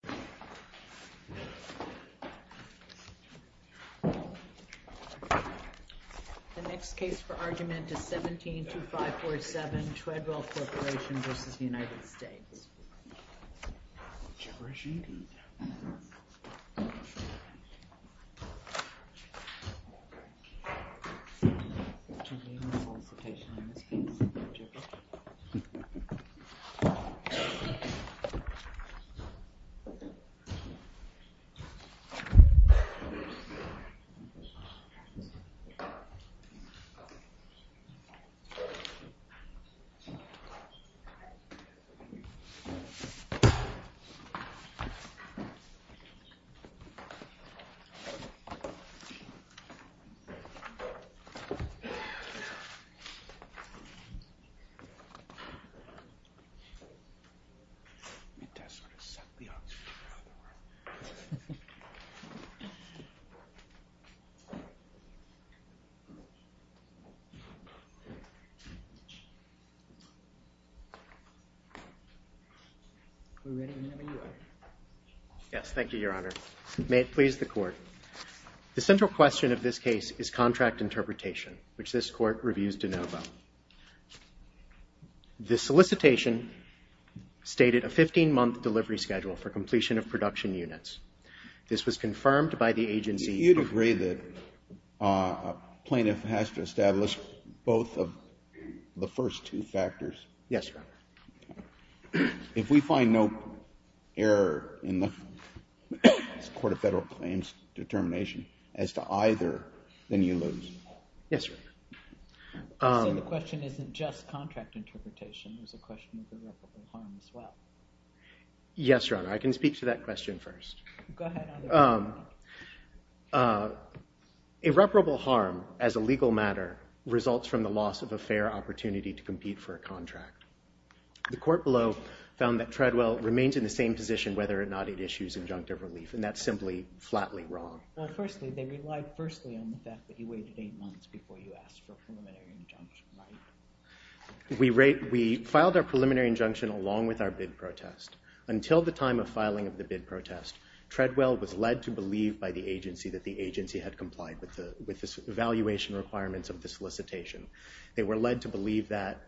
The next case for argument is 17-547 Treadwell Corporation v. United States. Treadwell Corporation v. United States Yes, thank you, your honor. May it please the court. The central question of this case is contract interpretation, which this court reviews de novo. The solicitation stated a 15-month delivery schedule for completion of production units. This was confirmed by the agency. Do you agree that a plaintiff has to establish both of the first two factors? Yes, your honor. If we find no error in the court of federal claims determination as to either, then you lose. Yes, your honor. So the question isn't just contract interpretation. There's a question of irreparable harm as well. Yes, your honor. I can speak to that question first. Go ahead. Irreparable harm as a legal matter results from the loss of a fair opportunity to compete for a contract. The court below found that Treadwell remains in the same position whether or not it issues injunctive relief, and that's simply flatly wrong. Well, firstly, they relied firstly on the fact that you waited eight months before you asked for a preliminary injunction, right? We filed our preliminary injunction along with our bid protest. Until the time of filing of the bid protest, Treadwell was led to believe by the agency that the agency had complied with the evaluation requirements of the solicitation. They were led to believe that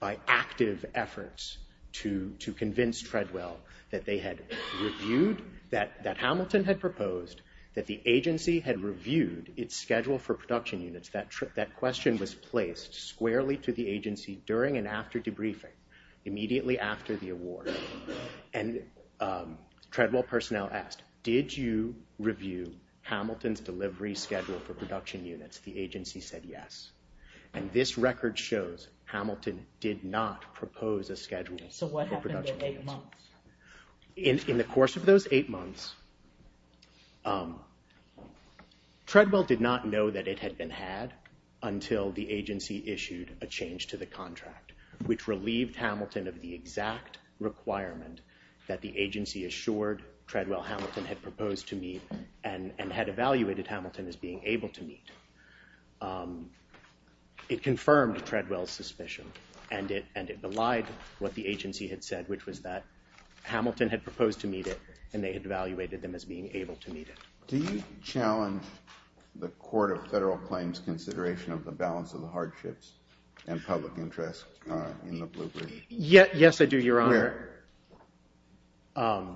by active efforts to convince Treadwell that they had reviewed, that Hamilton had proposed, that the agency had reviewed its schedule for production units. That question was placed squarely to the agency during and after debriefing, immediately after the award. And Treadwell personnel asked, did you review Hamilton's delivery schedule for production units? The agency said yes. And this record shows Hamilton did not propose a schedule for production units. In the course of those eight months, Treadwell did not know that it had been had until the agency issued a change to the contract, which relieved Hamilton of the exact requirement that the agency assured Treadwell Hamilton had proposed to meet and had evaluated Hamilton as being able to meet. It confirmed Treadwell's suspicion, and it belied what the agency had said, which was that Hamilton had proposed to meet it, and they had evaluated them as being able to meet it. Do you challenge the Court of Federal Claims' consideration of the balance of the hardships and public interest in the Blue Bridge? Yes, I do, Your Honor. Where?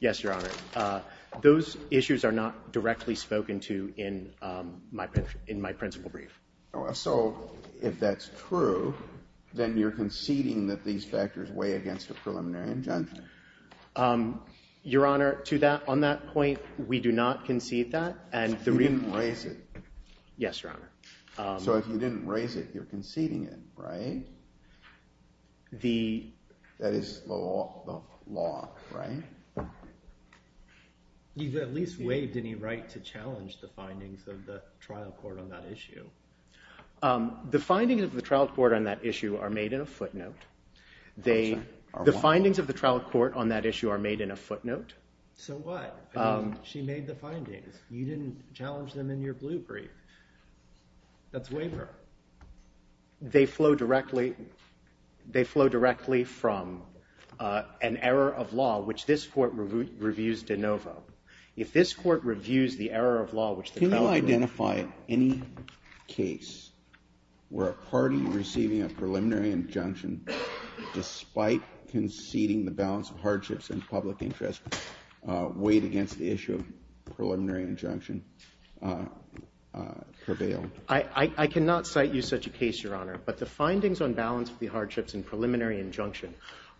Yes, Your Honor. Those issues are not directly spoken to in my principal brief. So if that's true, then you're conceding that these factors weigh against a preliminary injunction? Your Honor, to that point, we do not concede that. So you didn't raise it? Yes, Your Honor. So if you didn't raise it, you're conceding it, right? That is the law, right? You've at least waived any right to challenge the findings of the trial court on that issue. The findings of the trial court on that issue are made in a footnote. The findings of the trial court on that issue are made in a footnote. So what? She made the findings. You didn't challenge them in your blue brief. That's waiver. They flow directly from an error of law, which this Court reviews de novo. If this Court reviews the error of law, which the trial court reviews de novo. Can you identify any case where a party receiving a preliminary injunction, despite conceding the balance of hardships and public interest, weighed against the issue of preliminary injunction prevailed? I cannot cite you such a case, Your Honor. But the findings on balance of the hardships and preliminary injunction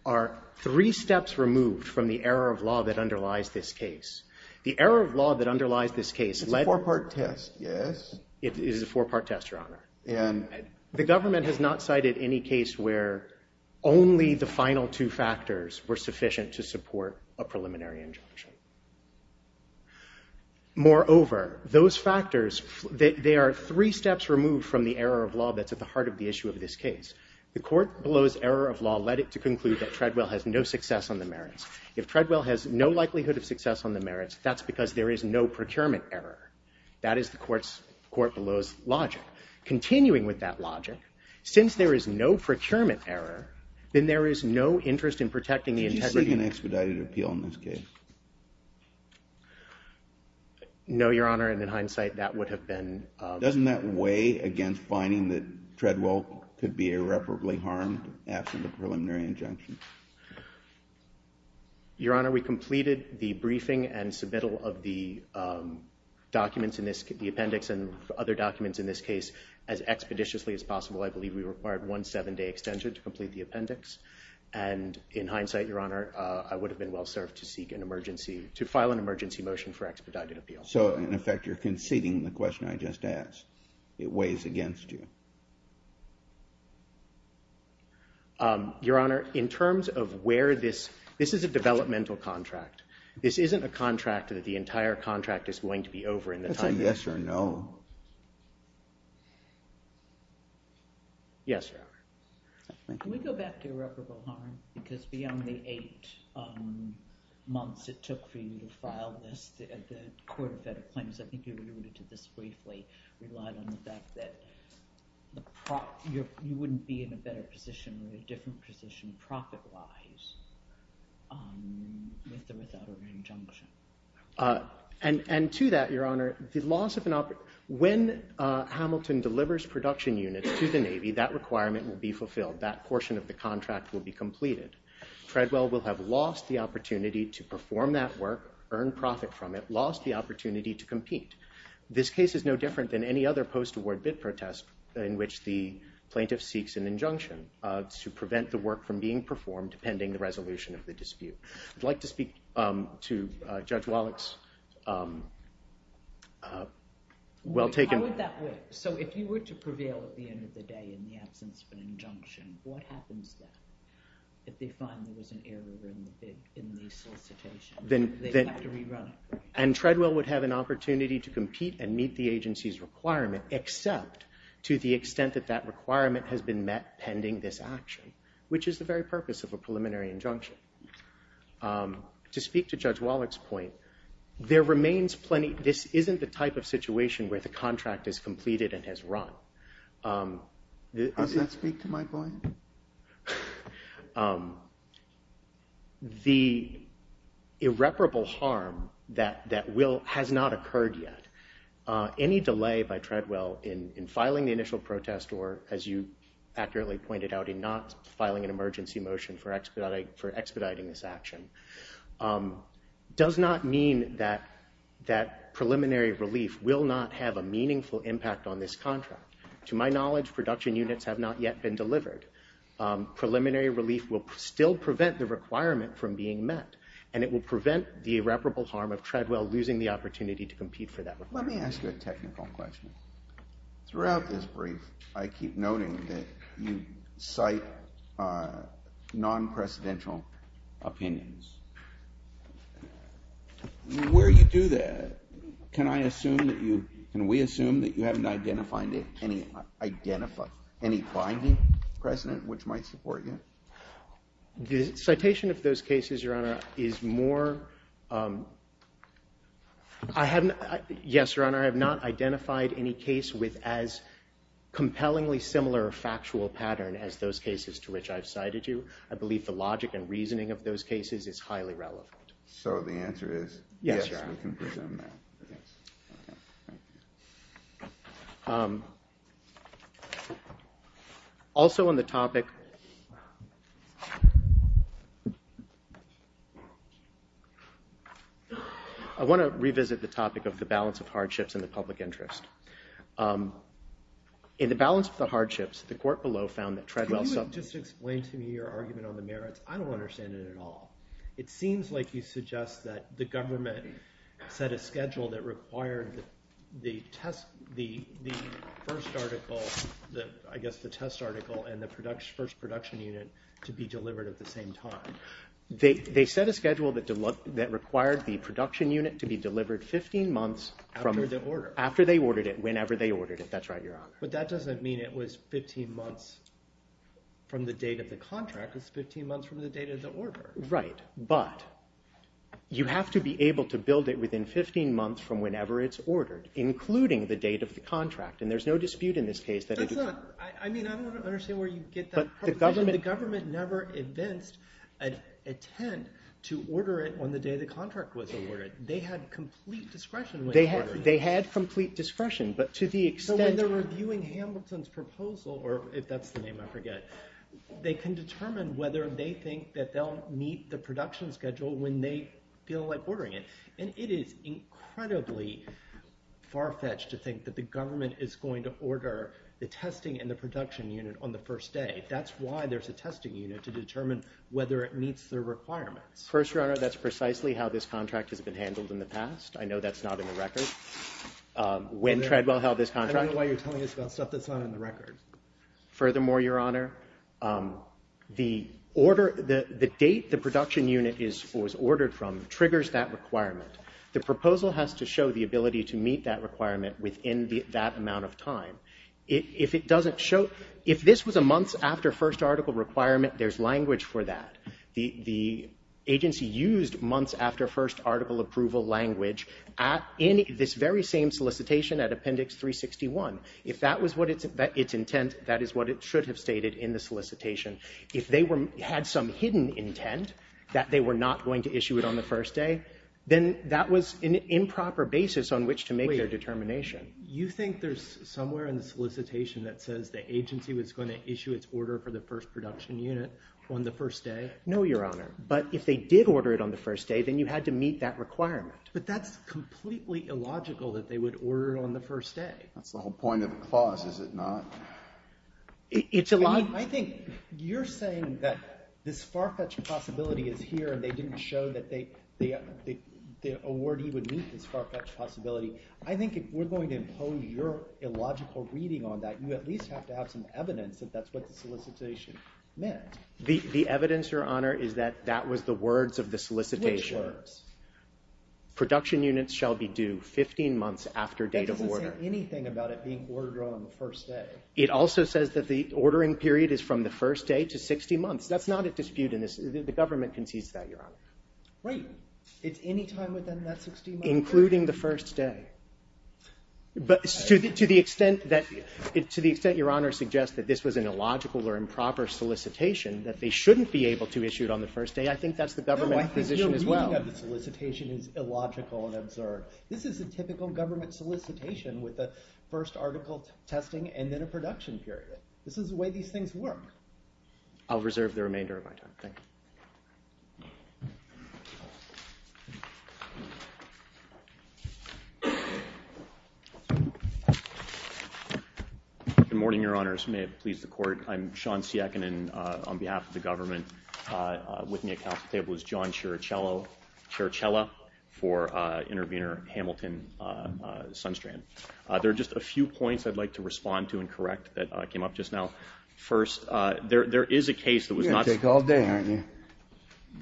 are three steps removed from the error of law that underlies this case. The error of law that underlies this case led... It's a four-part test, yes? It is a four-part test, Your Honor. The government has not cited any case where only the final two factors were sufficient to support a preliminary injunction. Moreover, those factors, they are three steps removed from the error of law that's at the heart of the issue of this case. The court below's error of law led it to conclude that Treadwell has no success on the merits. If Treadwell has no likelihood of success on the merits, that's because there is no procurement error. That is the court below's logic. Continuing with that logic, since there is no procurement error, then there is no interest in protecting the integrity... No, Your Honor, and in hindsight, that would have been... Doesn't that weigh against finding that Treadwell could be irreparably harmed absent a preliminary injunction? Your Honor, we completed the briefing and submittal of the appendix and other documents in this case as expeditiously as possible. I believe we required one seven-day extension to complete the appendix. to file an emergency motion for expedited appeal. So, in effect, you're conceding the question I just asked. It weighs against you. Your Honor, in terms of where this... This is a developmental contract. This isn't a contract that the entire contract is going to be over in the time... That's a yes or no. Yes, Your Honor. Can we go back to irreparable harm? Because beyond the eight months it took for you to file this, the Court of Federal Claims, I think you alluded to this briefly, relied on the fact that you wouldn't be in a better position or a different position profit-wise with or without an injunction. And to that, Your Honor, the loss of an... When Hamilton delivers production units to the Navy, that requirement will be fulfilled. That portion of the contract will be completed. Treadwell will have lost the opportunity to perform that work, earned profit from it, lost the opportunity to compete. This case is no different than any other post-award bid protest in which the plaintiff seeks an injunction to prevent the work from being performed pending the resolution of the dispute. I'd like to speak to Judge Wallach's well-taken... How would that work? So if you were to prevail at the end of the day in the absence of an injunction, what happens then if they find there was an error in the solicitation? They'd have to rerun it. And Treadwell would have an opportunity to compete and meet the agency's requirement, except to the extent that that requirement has been met pending this action, which is the very purpose of a preliminary injunction. To speak to Judge Wallach's point, there remains plenty... This isn't the type of situation where the contract is completed and has run. Does that speak to my point? The irreparable harm that has not occurred yet, any delay by Treadwell in filing the initial protest or, as you accurately pointed out, in not filing an emergency motion for expediting this action, does not mean that preliminary relief will not have a meaningful impact on this contract. To my knowledge, production units have not yet been delivered. Preliminary relief will still prevent the requirement from being met, and it will prevent the irreparable harm of Treadwell losing the opportunity to compete for that. Let me ask you a technical question. Throughout this brief, I keep noting that you cite non-presidential opinions. Where you do that, can I assume that you... Can we assume that you haven't identified any binding precedent which might support you? The citation of those cases, Your Honor, is more... Yes, Your Honor, I have not identified any case with as compellingly similar factual pattern as those cases to which I've cited you. I believe the logic and reasoning of those cases is highly relevant. So the answer is, yes, we can presume that. Also on the topic... I want to revisit the topic of the balance of hardships and the public interest. In the balance of the hardships, the court below found that Treadwell... Can you just explain to me your argument on the merits? I don't understand it at all. It seems like you suggest that the government set a schedule that required the test... They set a schedule that required the production unit to be delivered 15 months... After the order. After they ordered it, whenever they ordered it. That's right, Your Honor. But that doesn't mean it was 15 months from the date of the contract. It's 15 months from the date of the order. Right, but you have to be able to build it within 15 months from whenever it's ordered, including the date of the contract. And there's no dispute in this case that... I mean, I don't understand where you get that. The government never intends to order it on the day the contract was ordered. They had complete discretion when they ordered it. They had complete discretion, but to the extent... So when they're reviewing Hamilton's proposal, or if that's the name, I forget, they can determine whether they think that they'll meet the production schedule when they feel like ordering it. And it is incredibly far-fetched to think that the government is going to order the testing in the production unit on the first day. That's why there's a testing unit to determine whether it meets their requirements. First, Your Honor, that's precisely how this contract has been handled in the past. I know that's not in the record. When Treadwell held this contract... I don't know why you're telling us about stuff that's not in the record. Furthermore, Your Honor, the date the production unit was ordered from triggers that requirement. The proposal has to show the ability to meet that requirement within that amount of time. If it doesn't show... If this was a months-after-first article requirement, there's language for that. The agency used months-after-first article approval language in this very same solicitation at Appendix 361. If that was its intent, that is what it should have stated in the solicitation. If they had some hidden intent that they were not going to issue it on the first day, then that was an improper basis on which to make their determination. You think there's somewhere in the solicitation that says the agency was going to issue its order for the first production unit on the first day? No, Your Honor. But if they did order it on the first day, then you had to meet that requirement. But that's completely illogical that they would order it on the first day. That's the whole point of the clause, is it not? It's a lie. I think you're saying that this far-fetched possibility is here and they didn't show that the awardee would meet this far-fetched possibility. I think if we're going to impose your illogical reading on that, you at least have to have some evidence that that's what the solicitation meant. The evidence, Your Honor, is that that was the words of the solicitation. Which words? Production units shall be due 15 months after date of order. That doesn't say anything about it being ordered on the first day. It also says that the ordering period is from the first day to 60 months. That's not at dispute in this. The government concedes that, Your Honor. Right. It's any time within that 60 months? Including the first day. To the extent that Your Honor suggests that this was an illogical or improper solicitation that they shouldn't be able to issue it on the first day, I think that's the government position as well. No, I think your reading of the solicitation is illogical and absurd. This is a typical government solicitation with the first article testing and then a production period. This is the way these things work. I'll reserve the remainder of my time. Thank you. Good morning, Your Honors. May it please the Court. I'm Sean Siakinin on behalf of the government. With me at the Council table is John Sciaricella for intervener Hamilton Sunstrand. There are just a few points I'd like to respond to and correct that came up just now. First, there is a case that was not You're going to take all day, aren't you?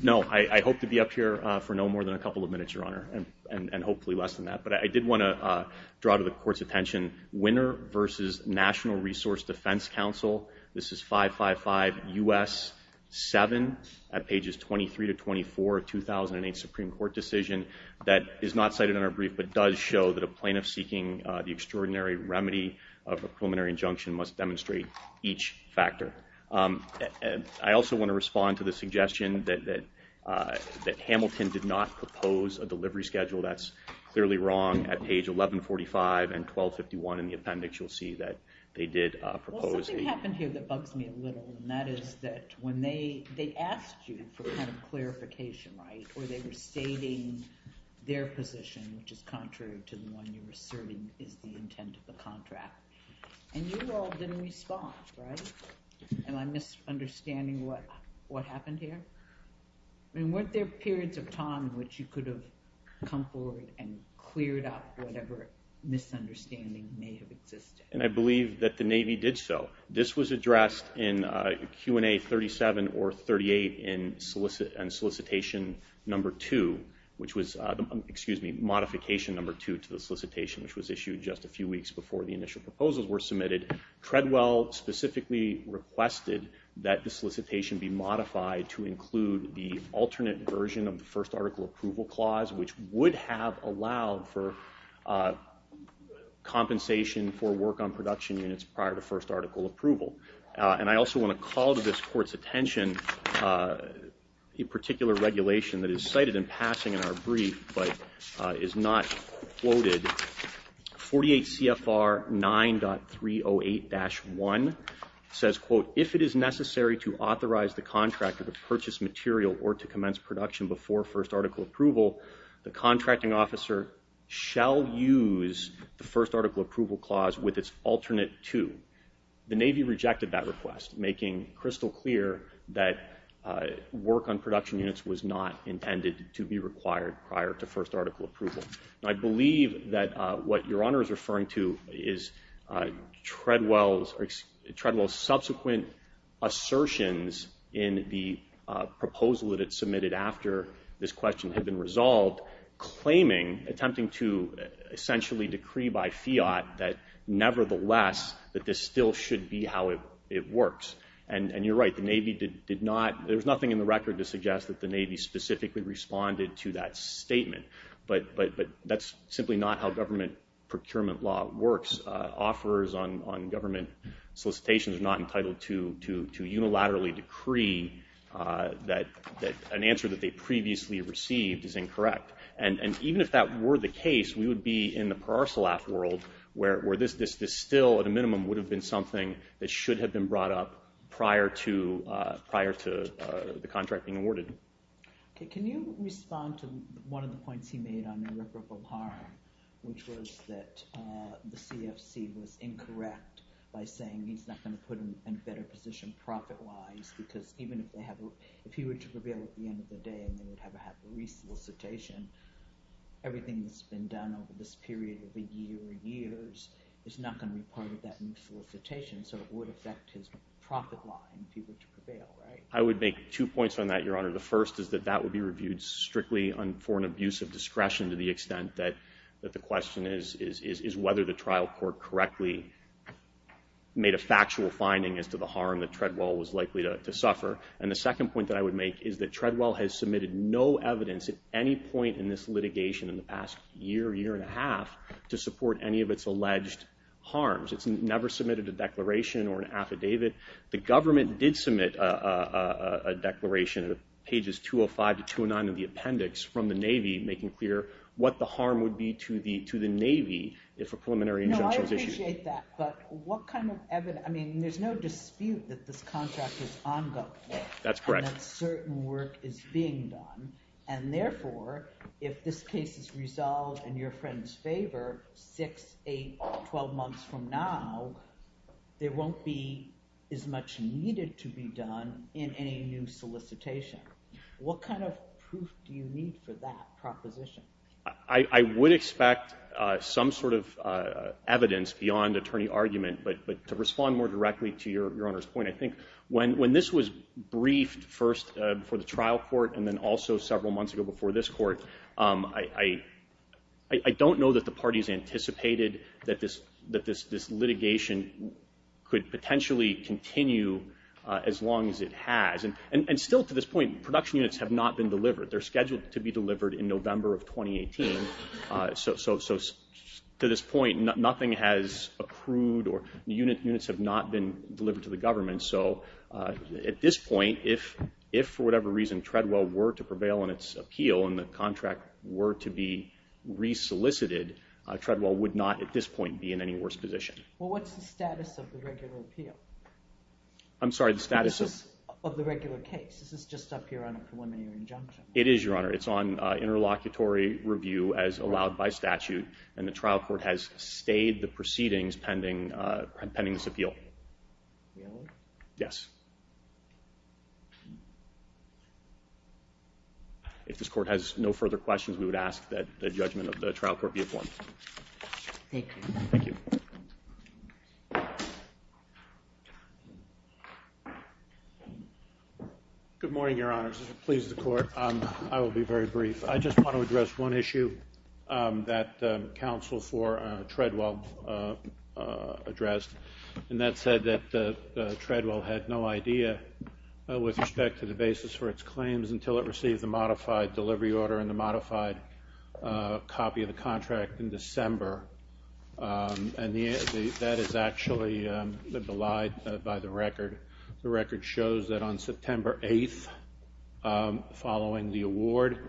No, I hope to be up here for no more than a couple of minutes, Your Honor, and hopefully less than that. But I did want to draw to the Court's attention Winner v. National Resource Defense Council. This is 555 U.S. 7 at pages 23 to 24 of 2008 Supreme Court decision that is not cited in our brief, but does show that a plaintiff seeking the extraordinary remedy of a preliminary injunction must demonstrate each factor. I also want to respond to the suggestion that Hamilton did not propose a delivery schedule. That's clearly wrong. At page 1145 and 1251 in the appendix, you'll see that they did propose a Well, something happened here that bugs me a little, and that is that when they asked you for kind of clarification, right, or they were stating their position, which is contrary to the one you're asserting is the intent of the contract, and you all didn't respond, right? Am I misunderstanding what happened here? I mean, weren't there periods of time in which you could have come forward and cleared up whatever misunderstanding may have existed? And I believe that the Navy did so. This was addressed in Q&A 37 or 38 in solicitation number 2, which was modification number 2 to the solicitation, which was issued just a few weeks before the initial proposals were submitted. Treadwell specifically requested that the solicitation be modified to include the alternate version of the first article approval clause, which would have allowed for compensation for work on production units prior to first article approval. And I also want to call to this Court's attention a particular regulation that is cited in passing in our brief but is not quoted. 48 CFR 9.308-1 says, quote, if it is necessary to authorize the contractor to purchase material or to commence production before first article approval, the contracting officer shall use the first article approval clause with its alternate to. The Navy rejected that request, making crystal clear that work on production units was not intended to be required prior to first article approval. I believe that what Your Honor is referring to is Treadwell's subsequent assertions in the proposal that it submitted after this question had been resolved, claiming, attempting to essentially decree by fiat, that nevertheless that this still should be how it works. And you're right. The Navy did not. There's nothing in the record to suggest that the Navy specifically responded to that statement. But that's simply not how government procurement law works. Offers on government solicitations are not entitled to unilaterally decree that an answer that they previously received is incorrect. And even if that were the case, we would be in the Paracelaf world where this still, at a minimum, would have been something that should have been brought up prior to the contract being awarded. Can you respond to one of the points he made on irreparable harm, which was that the CFC was incorrect by saying he's not going to put him in a better position profit-wise because even if he were to prevail at the end of the day and they would have a re-solicitation, everything that's been done over this period of a year or years is not going to be part of that new solicitation, so it would affect his profit line if he were to prevail, right? I would make two points on that, Your Honor. The first is that that would be reviewed strictly for an abuse of discretion to the extent that the question is whether the trial court correctly made a factual finding as to the harm that Treadwell was likely to suffer. And the second point that I would make is that Treadwell has submitted no evidence at any point in this litigation in the past year, year and a half, to support any of its alleged harms. It's never submitted a declaration or an affidavit. The government did submit a declaration at pages 205 to 209 of the appendix from the Navy making clear what the harm would be to the Navy if a preliminary injunction was issued. I appreciate that, but what kind of evidence, I mean, there's no dispute that this contract is ongoing. That's correct. And that certain work is being done, and therefore, if this case is resolved in your friend's favor, six, eight, twelve months from now, there won't be as much needed to be done in any new solicitation. What kind of proof do you need for that proposition? I would expect some sort of evidence beyond attorney argument, but to respond more directly to your Honor's point, I think when this was briefed first for the trial court and then also several months ago before this court, I don't know that the parties anticipated that this litigation could potentially continue as long as it has. And still to this point, production units have not been delivered. They're scheduled to be delivered in November of 2018. So to this point, nothing has accrued or the units have not been delivered to the government. So at this point, if for whatever reason Treadwell were to prevail in its appeal and the contract were to be resolicited, Treadwell would not at this point be in any worse position. Well, what's the status of the regular appeal? I'm sorry, the status of the regular case? This is just up here on a preliminary injunction. It is, Your Honor. It's on interlocutory review as allowed by statute, and the trial court has stayed the proceedings pending this appeal. Yes. If this court has no further questions, we would ask that the judgment of the trial court be informed. Thank you. Thank you. Good morning, Your Honors. If it pleases the court, I will be very brief. I just want to address one issue that counsel for Treadwell addressed, and that said that Treadwell had no idea with respect to the basis for its claims until it received the modified delivery order and the modified copy of the contract in December. And that is actually belied by the record. The record shows that on September 8th, following the award,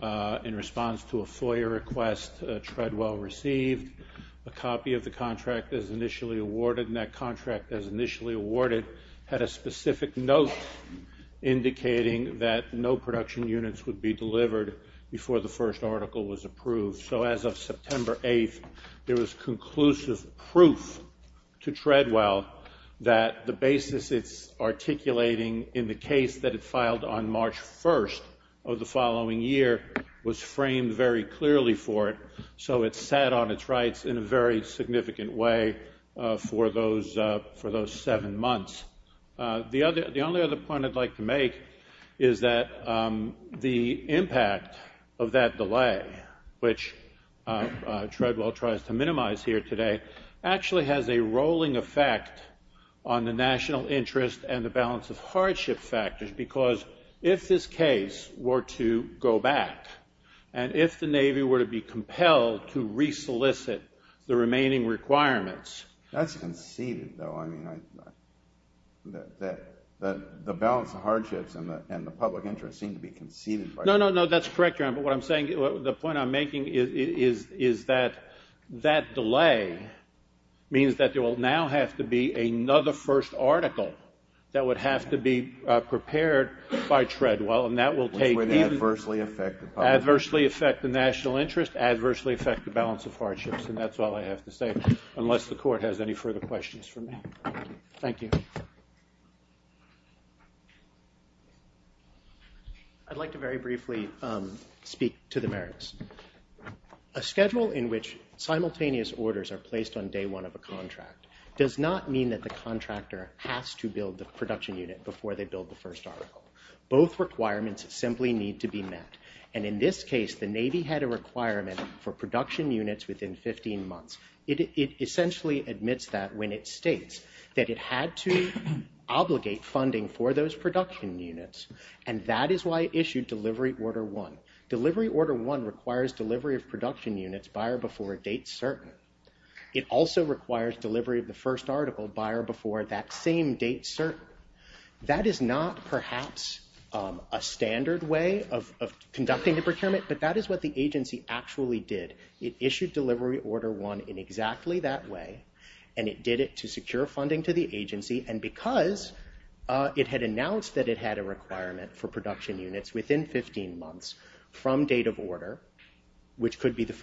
in response to a FOIA request Treadwell received, a copy of the contract as initially awarded, and that contract as initially awarded, had a specific note indicating that no production units would be delivered before the first article was approved. So as of September 8th, there was conclusive proof to Treadwell that the basis it's articulating in the case that it filed on March 1st of the following year was framed very clearly for it, so it sat on its rights in a very significant way for those seven months. The only other point I'd like to make is that the impact of that delay, which Treadwell tries to minimize here today, actually has a rolling effect on the national interest and the balance of hardship factors, because if this case were to go back, and if the Navy were to be compelled to resolicit the remaining requirements... That's conceded, though. The balance of hardships and the public interest seem to be conceded. No, no, no, that's correct, but what I'm saying, the point I'm making is that that delay means that there will now have to be another first article that would have to be prepared by Treadwell, and that will take... Which would adversely affect the public interest. Adversely affect the national interest, adversely affect the balance of hardships, and that's all I have to say, unless the court has any further questions for me. Thank you. I'd like to very briefly speak to the merits. A schedule in which simultaneous orders are placed on day one of a contract does not mean that the contractor has to build the production unit before they build the first article. Both requirements simply need to be met, and in this case, the Navy had a requirement for production units within 15 months. It essentially admits that when it states that it had to obligate funding for those production units, and that is why it issued Delivery Order 1. Delivery Order 1 requires delivery of production units by or before a date certain. It also requires delivery of the first article by or before that same date certain. That is not, perhaps, a standard way of conducting the procurement, but that is what the agency actually did. It issued Delivery Order 1 in exactly that way, and it did it to secure funding to the agency, and because it had announced that it had a requirement for production units within 15 months from date of order, which could be the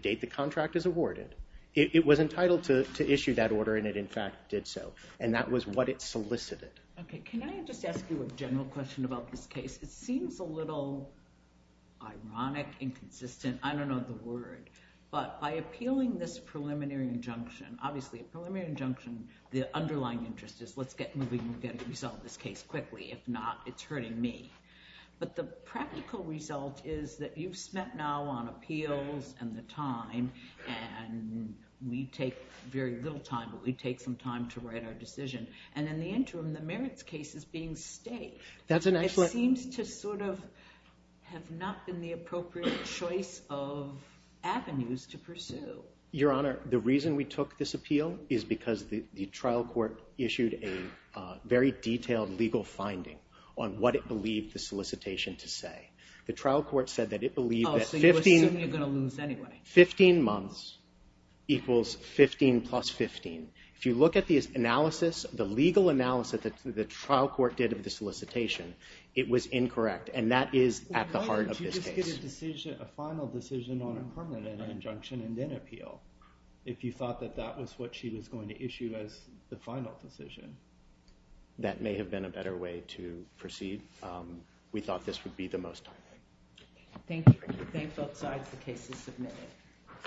date the contract is awarded, it was entitled to issue that order, and it, in fact, did so, and that was what it solicited. Can I just ask you a general question about this case? It seems a little ironic, inconsistent. I don't know the word, but by appealing this preliminary injunction, obviously a preliminary injunction, the underlying interest is, let's get moving and get a result of this case quickly. If not, it's hurting me, but the practical result is that you've spent now on appeals and the time, and we take very little time, but we take some time to write our decision, and in the interim, the merits case is being staked. It seems to sort of have not been the appropriate choice of avenues to pursue. Your Honor, the reason we took this appeal is because the trial court issued a very detailed legal finding on what it believed the solicitation to say. The trial court said that it believed that 15 months equals 15 plus 15. If you look at the analysis, the legal analysis that the trial court did of the solicitation, it was incorrect, and that is at the heart of this case. Why would you just get a final decision on a permanent injunction and then appeal if you thought that that was what she was going to issue as the final decision? That may have been a better way to proceed. We thought this would be the most timely. Thank you. Thank both sides. The case is submitted.